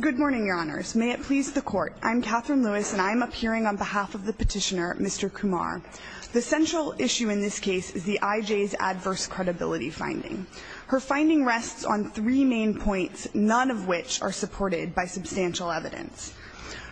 Good morning, your honors. May it please the court. I'm Catherine Lewis and I'm appearing on behalf of the petitioner, Mr. Kumar. The central issue in this case is the IJ's adverse credibility finding. Her finding rests on three main points, none of which are supported by substantial evidence.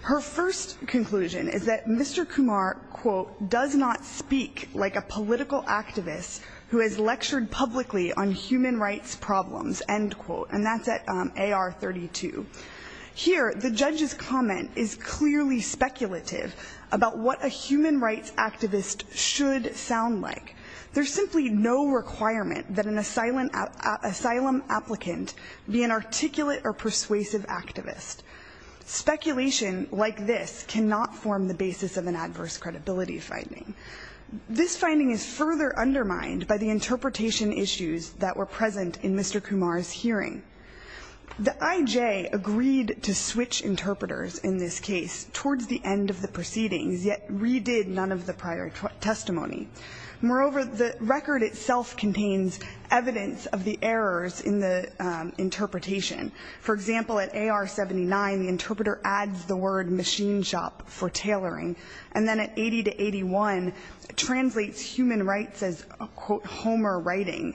Her first conclusion is that Mr. Kumar, quote, does not speak like a political activist who has lectured publicly on human rights problems, end quote, and that's at AR 32. Here, the judge's comment is clearly speculative about what a human rights activist should sound like. There's simply no requirement that an asylum applicant be an articulate or persuasive activist. Speculation like this cannot form the basis of an adverse credibility finding. This finding is further undermined by the interpretation issues that were present in Mr. Kumar's hearing. The IJ agreed to switch interpreters in this case towards the end of the proceedings, yet redid none of the prior testimony. Moreover, the record itself contains evidence of the errors in the interpretation. For example, at AR 79, the interpreter adds the word machine shop for tailoring, and then at 80 to 81, translates human rights as, quote, Homer writing.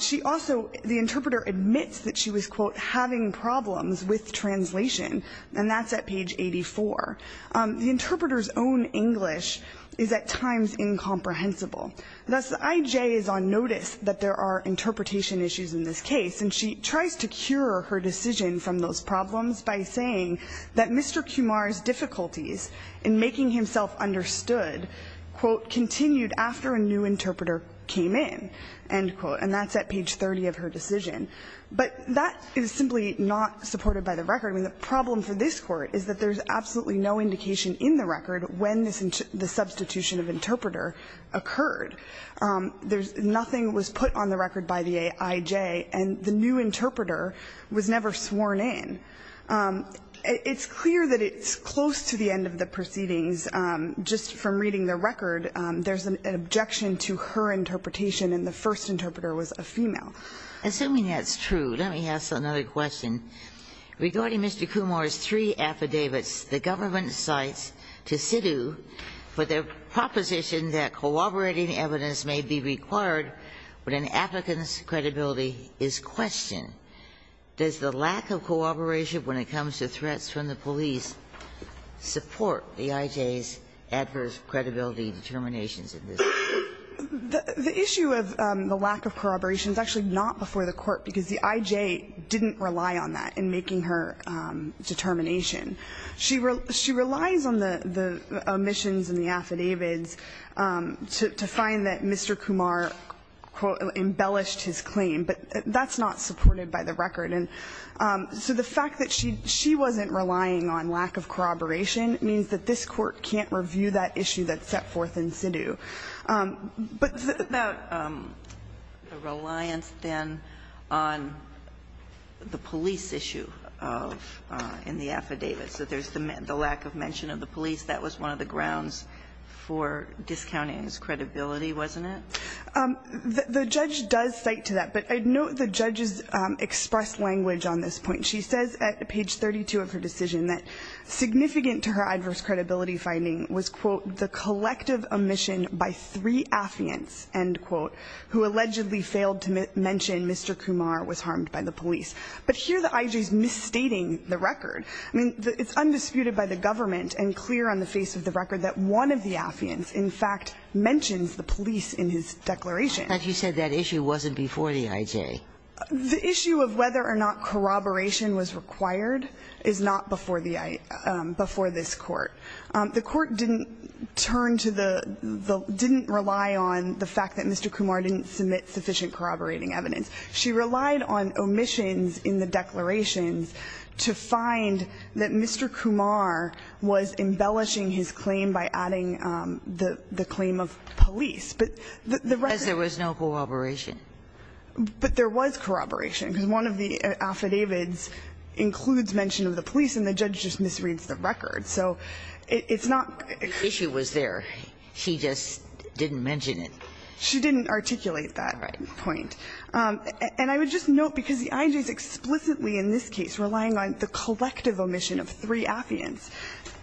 She also, the interpreter admits that she was, quote, having problems with translation, and that's at page 84. The interpreter's own English is at times incomprehensible. Thus, the IJ is on notice that there are interpretation issues in this case, and she tries to cure her decision from those problems by saying that Mr. Kumar's difficulties in making himself understood, quote, continued after a new interpreter came in, end quote, and that's at page 30 of her decision. But that is simply not supported by the record. I mean, the problem for this Court is that there's absolutely no indication in the record when the substitution of interpreter occurred. There's nothing that was put on the record by the IJ, and the new interpreter was never sworn in. It's clear that it's close to the end of the proceedings. Just from reading the record, there's an objection to her interpretation, and the first interpreter was a female. Kagan. Assuming that's true, let me ask another question. Regarding Mr. Kumar's three affidavits the government cites to SIDU for their proposition that corroborating evidence may be required when an applicant's credibility is questioned, does the lack of corroboration when it comes to threats from the police support the IJ's adverse credibility determinations in this case? The issue of the lack of corroboration is actually not before the Court because the IJ didn't rely on that in making her determination. She relies on the omissions and the affidavits to find that Mr. Kumar, quote, embellished his claim, but that's not supported by the record. And so the fact that she wasn't relying on lack of corroboration means that this Court can't review that issue that's set forth in SIDU. But about the reliance, then, on the police issue of the affidavits, that there's the lack of mention of the police. That was one of the grounds for discounting his credibility, wasn't it? The judge does cite to that, but I note the judge's expressed language on this point. She says at page 32 of her decision that significant to her adverse credibility finding was, quote, the collective omission by three affiants, end quote, who allegedly failed to mention Mr. Kumar was harmed by the police. But here the IJ is misstating the record. I mean, it's undisputed by the government and clear on the face of the record that one of the affiants, in fact, mentions the police in his declaration. But you said that issue wasn't before the IJ. The issue of whether or not corroboration was required is not before the IJ, before this Court. The Court didn't turn to the – didn't rely on the fact that Mr. Kumar didn't submit sufficient corroborating evidence. She relied on omissions in the declarations to find that Mr. Kumar was embellishing his claim by adding the claim of police. But the record – Because there was no corroboration. But there was corroboration, because one of the affidavits includes mention of the police, and the judge just misreads the record. So it's not – The issue was there. She just didn't mention it. She didn't articulate that point. Right. And I would just note, because the IJ is explicitly in this case relying on the collective omission of three affiants,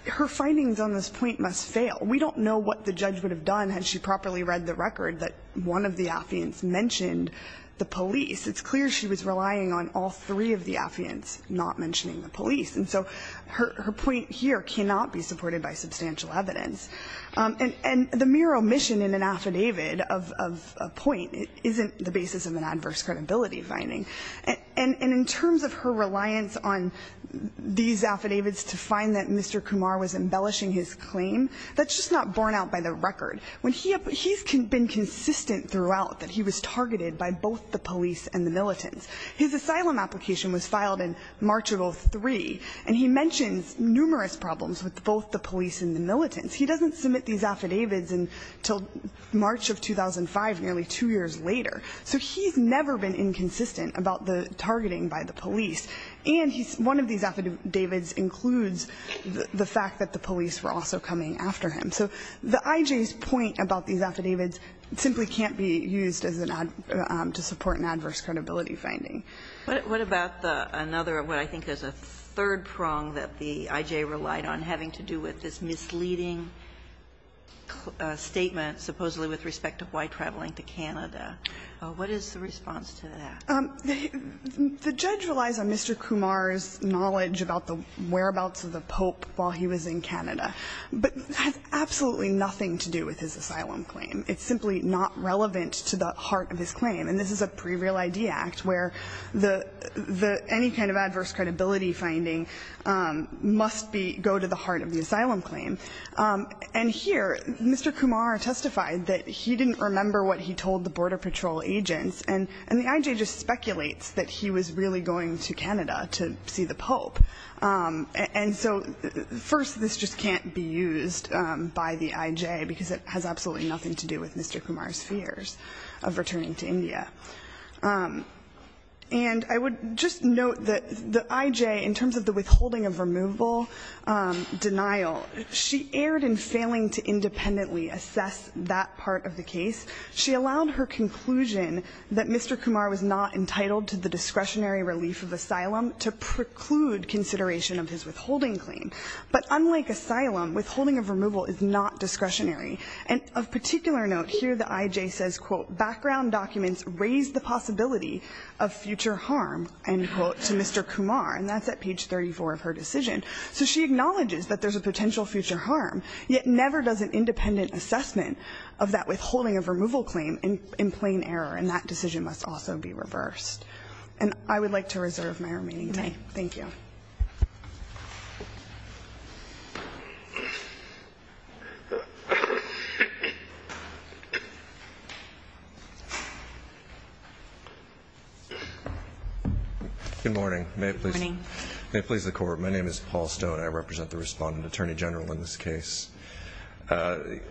her findings on this point must fail. We don't know what the judge would have done had she properly read the record that one of the affiants mentioned the police. It's clear she was relying on all three of the affiants not mentioning the police. And so her point here cannot be supported by substantial evidence. And the mere omission in an affidavit of a point isn't the basis of an adverse credibility finding. And in terms of her reliance on these affidavits to find that Mr. Kumar was embellishing his claim, that's just not borne out by the record. He's been consistent throughout that he was targeted by both the police and the militants. His asylum application was filed in March of 2003, and he mentions numerous problems with both the police and the militants. He doesn't submit these affidavits until March of 2005, nearly two years later. So he's never been inconsistent about the targeting by the police. And he's one of these affidavits includes the fact that the police were also coming after him. So the I.J.'s point about these affidavits simply can't be used as an ad to support an adverse credibility finding. What about another, what I think is a third prong that the I.J. relied on having to do with this misleading statement supposedly with respect to why traveling to Canada, what is the response to that? The judge relies on Mr. Kumar's knowledge about the whereabouts of the Pope while he was in Canada, but it has absolutely nothing to do with his asylum claim. It's simply not relevant to the heart of his claim. And this is a pre-real ID act where the any kind of adverse credibility finding must be go to the heart of the asylum claim. And here, Mr. Kumar testified that he didn't remember what he told the Border Patrol agents, and the I.J. just speculates that he was really going to Canada to see the Pope. And so first, this just can't be used by the I.J., because it has absolutely nothing to do with Mr. Kumar's fears of returning to India. And I would just note that the I.J., in terms of the withholding of removal denial, she erred in failing to independently assess that part of the case. She allowed her conclusion that Mr. Kumar was not entitled to the discretionary relief of asylum to preclude consideration of his withholding claim. But unlike asylum, withholding of removal is not discretionary. And of particular note, here the I.J. says, quote, background documents raise the possibility of future harm, end quote, to Mr. Kumar, and that's at page 34 of her decision. So she acknowledges that there's a potential future harm, yet never does an independent assessment of that withholding of removal claim in plain error, and that decision must also be reversed. And I would like to reserve my remaining time. Thank you. Good morning. Good morning. May it please the Court. My name is Paul Stone. I represent the Respondent Attorney General in this case. There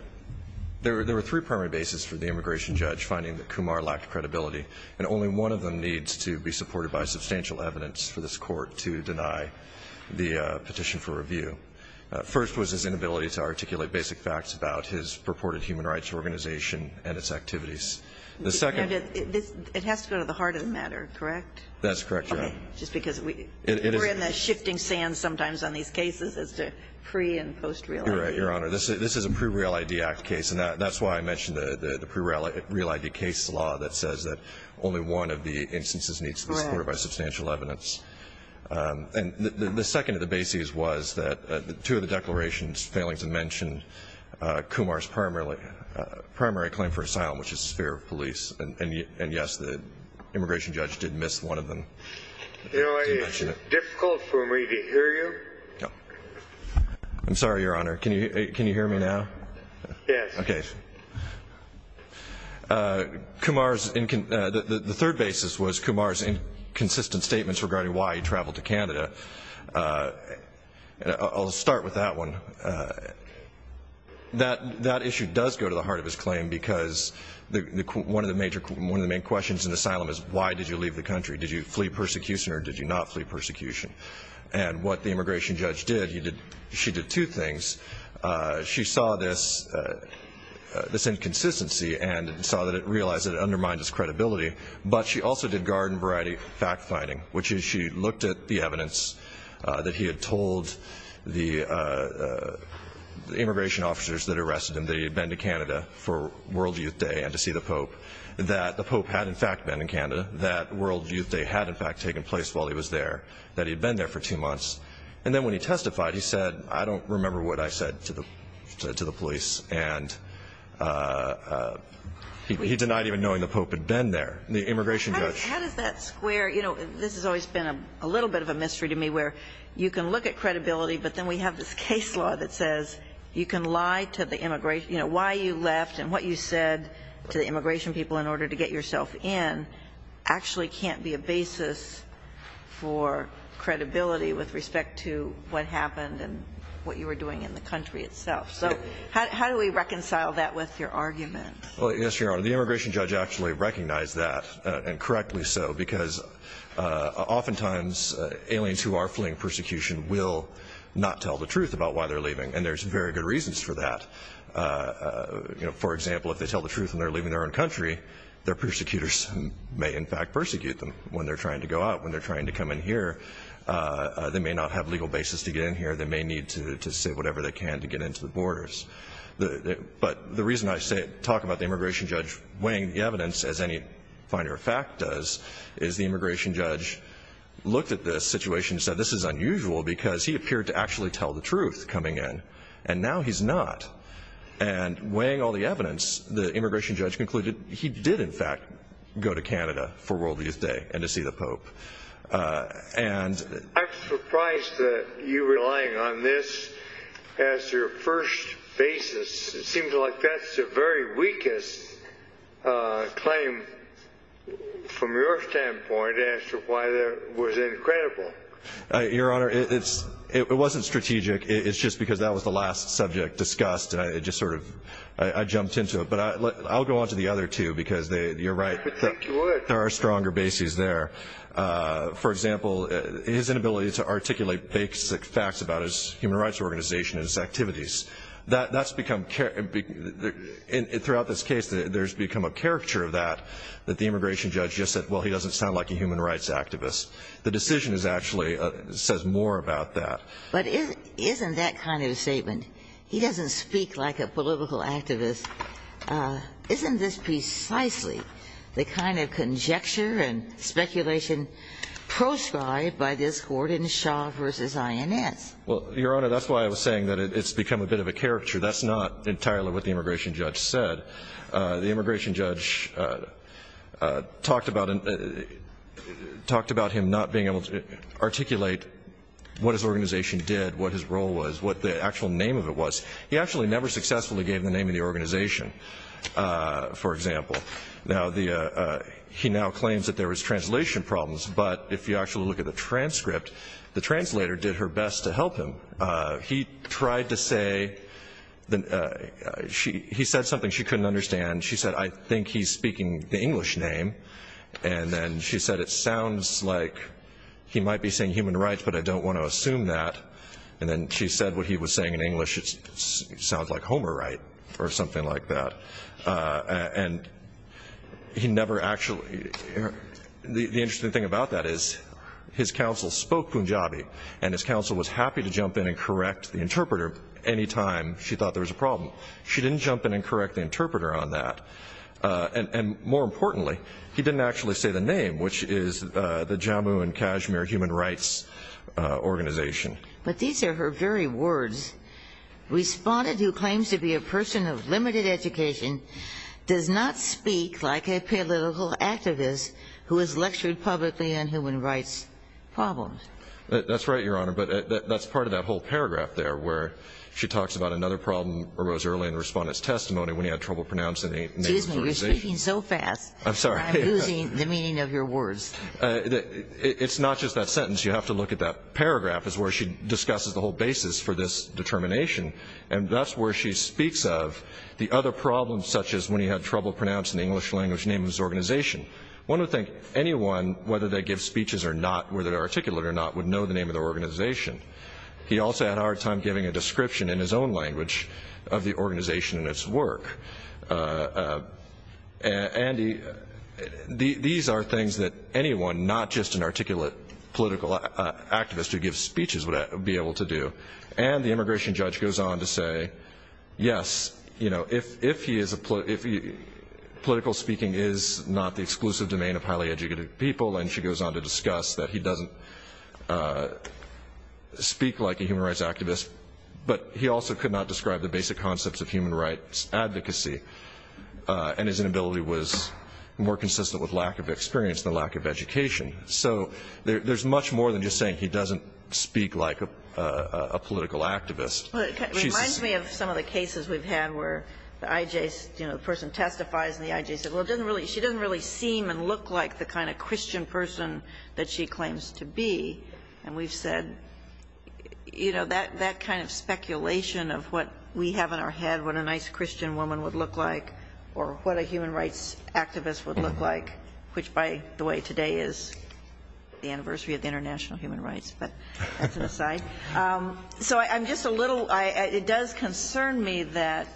were three primary bases for the immigration judge finding that Kumar lacked credibility, and only one of them needs to be supported by substantial evidence for this Court to deny the petition for review. First was his inability to articulate basic facts about his purported human rights organization and its activities. The second one. That's correct, Your Honor. Just because we're in the shifting sands sometimes on these cases as to pre- and post-real ID. You're right, Your Honor. This is a pre-real ID Act case, and that's why I mentioned the pre-real ID case law that says that only one of the instances needs to be supported by substantial evidence. And the second of the bases was that two of the declarations failing to mention Kumar's primary claim for asylum, which is his fear of police, and, yes, the immigration judge did miss one of them. You know, it's difficult for me to hear you. I'm sorry, Your Honor. Can you hear me now? Yes. Okay. The third basis was Kumar's inconsistent statements regarding why he traveled to Canada. I'll start with that one. That issue does go to the heart of his claim because one of the main questions in this case was why did you leave the country? Did you flee persecution or did you not flee persecution? And what the immigration judge did, she did two things. She saw this inconsistency and saw that it undermined his credibility, but she also did garden variety fact-finding, which is she looked at the evidence that he had told the immigration officers that arrested him that he had been to Canada for World Youth Day and to see the Pope, that the Pope had in fact been in Canada, that World Youth Day had in fact taken place while he was there, that he had been there for two months. And then when he testified, he said, I don't remember what I said to the police. And he denied even knowing the Pope had been there, the immigration judge. How does that square? You know, this has always been a little bit of a mystery to me where you can look at credibility, but then we have this case law that says you can lie to the immigration, you know, why you left and what you said to the immigration people in order to get yourself in actually can't be a basis for credibility with respect to what happened and what you were doing in the country itself. So how do we reconcile that with your argument? Well, your Honor, the immigration judge actually recognized that, and correctly so, because oftentimes aliens who are fleeing persecution will not tell the truth about why they're leaving, and there's very good reasons for that. For example, if they tell the truth when they're leaving their own country, their persecutors may in fact persecute them when they're trying to go out, when they're trying to come in here. They may not have legal basis to get in here. They may need to say whatever they can to get into the borders. But the reason I talk about the immigration judge weighing the evidence, as any finer fact does, is the immigration judge looked at this situation and said, this is unusual because he appeared to actually tell the truth coming in, and now he's not. And weighing all the evidence, the immigration judge concluded he did in fact go to Canada for World Youth Day and to see the Pope. I'm surprised that you're relying on this as your first basis. It seems like that's the very weakest claim from your standpoint as to why that was incredible. Your Honor, it wasn't strategic. It's just because that was the last subject discussed, and I just sort of, I jumped into it. But I'll go on to the other two because you're right. There are stronger bases there. For example, his inability to articulate basic facts about his human rights organization and its activities. That's become, throughout this case, there's become a caricature of that, that the immigration judge just said, well, he doesn't sound like a human rights activist. The decision actually says more about that. But isn't that kind of statement, he doesn't speak like a political activist, isn't this precisely the kind of conjecture and speculation proscribed by this Gordon Shaw versus INS? Well, Your Honor, that's why I was saying that it's become a bit of a caricature. That's not entirely what the immigration judge said. The immigration judge talked about him not being able to articulate what his organization did, what his role was, what the actual name of it was. He actually never successfully gave the name of the organization, for example. Now, he now claims that there was translation problems, but if you actually look at the transcript, the translator did her best to help him. He tried to say, he said something she couldn't understand. She said, I think he's speaking the English name. And then she said, it sounds like he might be saying human rights, but I don't want to assume that. And then she said what he was saying in English, it sounds like Homer right, or something like that. And he never actually, the interesting thing about that is his counsel spoke Punjabi, and his counsel was happy to jump in and correct the interpreter any time she thought there was a problem. She didn't jump in and correct the interpreter on that. And more importantly, he didn't actually say the name, which is the Jammu and Kashmir Human Rights Organization. But these are her very words. Respondent who claims to be a person of limited education does not speak like a political activist who has lectured publicly on human rights problems. That's right, Your Honor. But that's part of that whole paragraph there where she talks about another problem that arose early in the Respondent's testimony when he had trouble pronouncing the name of the organization. Excuse me, you're speaking so fast. I'm sorry. I'm losing the meaning of your words. It's not just that sentence. You have to look at that paragraph is where she discusses the whole basis for this determination. And that's where she speaks of the other problems such as when he had trouble pronouncing the English language name of his organization. One would think anyone, whether they give speeches or not, whether they're articulate or not, would know the name of their organization. He also had a hard time giving a description in his own language of the organization and its work. And these are things that anyone, not just an articulate political activist who gives speeches would be able to do. And the immigration judge goes on to say, yes, you know, if he is a political speaking is not the exclusive domain of highly educated people, and she goes on to discuss that he doesn't speak like a human rights activist, but he also could not describe the basic concepts of human rights advocacy. And his inability was more consistent with lack of experience than lack of education. So there's much more than just saying he doesn't speak like a political activist. She's just the same. But it reminds me of some of the cases we've had where the IJ, you know, the person testifies and the IJ says, well, it doesn't really, she doesn't really seem and look like the kind of Christian person that she claims to be. And we've said, you know, that kind of speculation of what we have in our head, what a nice Christian woman would look like or what a human rights activist would look like, which by the way, today is the anniversary of the International Human Rights, but that's an aside. So I'm just a little, it does concern me that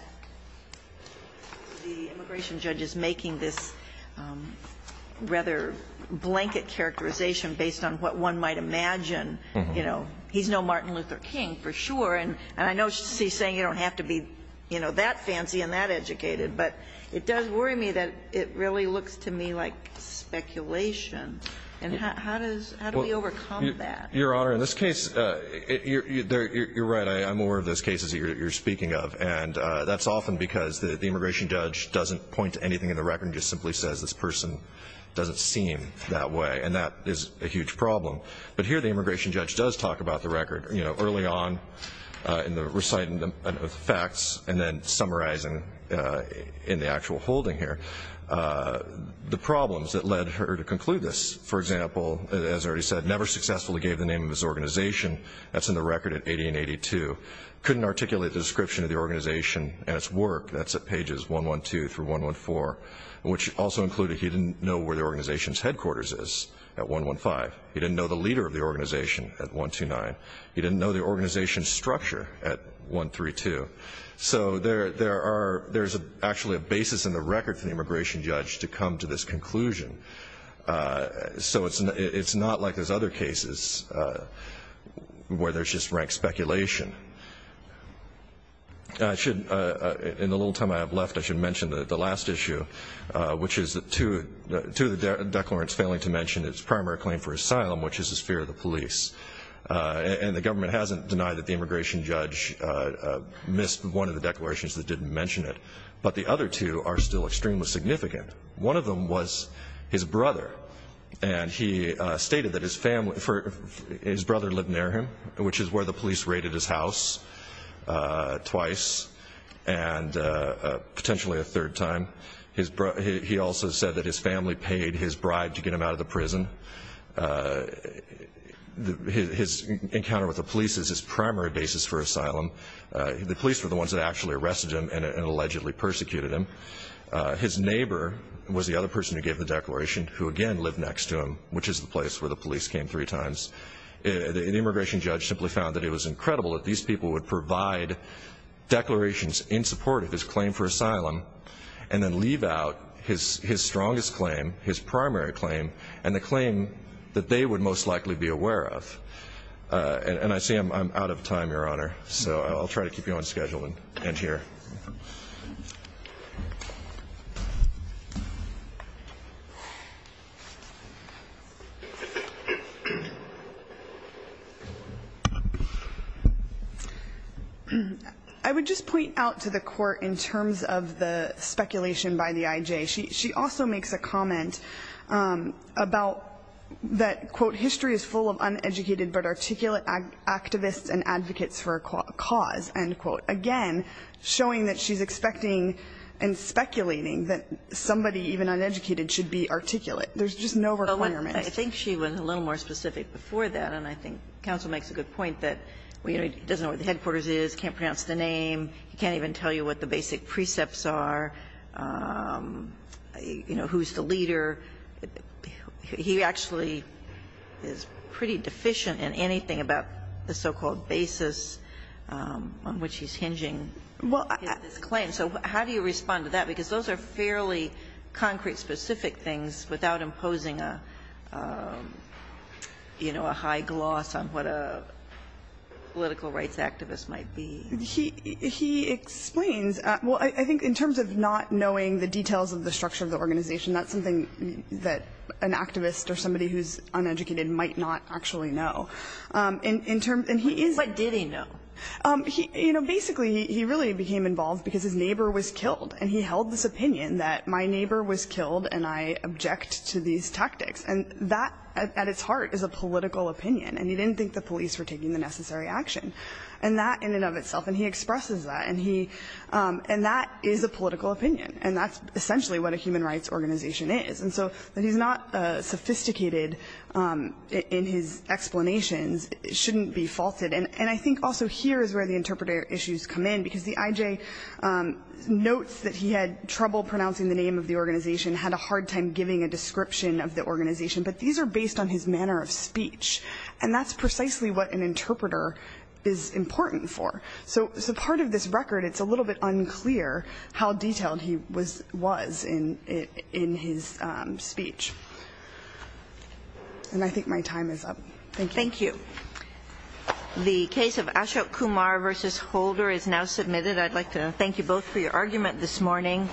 the immigration judge is making this rather blanket characterization based on what one might imagine. You know, he's no Martin Luther King for sure. And I know she's saying you don't have to be, you know, that fancy and that looks to me like speculation. And how do we overcome that? Your Honor, in this case, you're right. I'm aware of those cases that you're speaking of. And that's often because the immigration judge doesn't point to anything in the record and just simply says this person doesn't seem that way. And that is a huge problem. But here the immigration judge does talk about the record, you know, early on in reciting the facts and then summarizing in the actual holding here the problems that led her to conclude this. For example, as I already said, never successfully gave the name of his organization. That's in the record at 1882. Couldn't articulate the description of the organization and its work. That's at pages 112 through 114, which also included he didn't know where the organization's headquarters is at 115. He didn't know the leader of the organization at 129. He didn't know the organization's structure at 132. So there's actually a basis in the record for the immigration judge to come to this conclusion. So it's not like there's other cases where there's just rank speculation. In the little time I have left, I should mention the last issue, which is two of the And the government hasn't denied that the immigration judge missed one of the declarations that didn't mention it. But the other two are still extremely significant. One of them was his brother. And he stated that his brother lived near him, which is where the police raided his house twice and potentially a third time. He also said that his family paid his bride to get him out of the prison. His encounter with the police is his primary basis for asylum. The police were the ones that actually arrested him and allegedly persecuted him. His neighbor was the other person who gave the declaration, who again lived next to him, which is the place where the police came three times. The immigration judge simply found that it was incredible that these people would provide declarations in support of his claim for asylum and then leave out his strongest claim, his primary claim, and the claim that they would most likely be aware of. And I see I'm out of time, Your Honor. So I'll try to keep you on schedule and end here. I would just point out to the Court in terms of the speculation by the I.J. She also makes a comment about that, quote, history is full of uneducated but articulate activists and advocates for a cause, end quote. Again, showing that she's expecting and speculating that somebody even uneducated should be articulate. There's just no requirement. I think she was a little more specific before that. And I think counsel makes a good point that he doesn't know what the headquarters is, can't pronounce the name, can't even tell you what the basic precepts are. You know, who's the leader. He actually is pretty deficient in anything about the so-called basis on which he's hinging his claim. So how do you respond to that? Because those are fairly concrete, specific things without imposing a, you know, a high gloss on what a political rights activist might be. He explains, well, I think in terms of not knowing the details of the structure of the organization, that's something that an activist or somebody who's uneducated might not actually know. But did he know? You know, basically, he really became involved because his neighbor was killed and he held this opinion that my neighbor was killed and I object to these tactics. And that, at its heart, is a political opinion. And he didn't think the police were taking the necessary action. And that, in and of itself, and he expresses that. And that is a political opinion. And that's essentially what a human rights organization is. And so that he's not sophisticated in his explanations shouldn't be faulted. And I think also here is where the interpreter issues come in, because the IJ notes that he had trouble pronouncing the name of the organization, had a hard time giving a description of the organization. But these are based on his manner of speech. And that's precisely what an interpreter is important for. So as a part of this record, it's a little bit unclear how detailed he was in his speech. And I think my time is up. Thank you. Thank you. The case of Ashok Kumar v. Holder is now submitted. I'd like to thank you both for your argument this morning.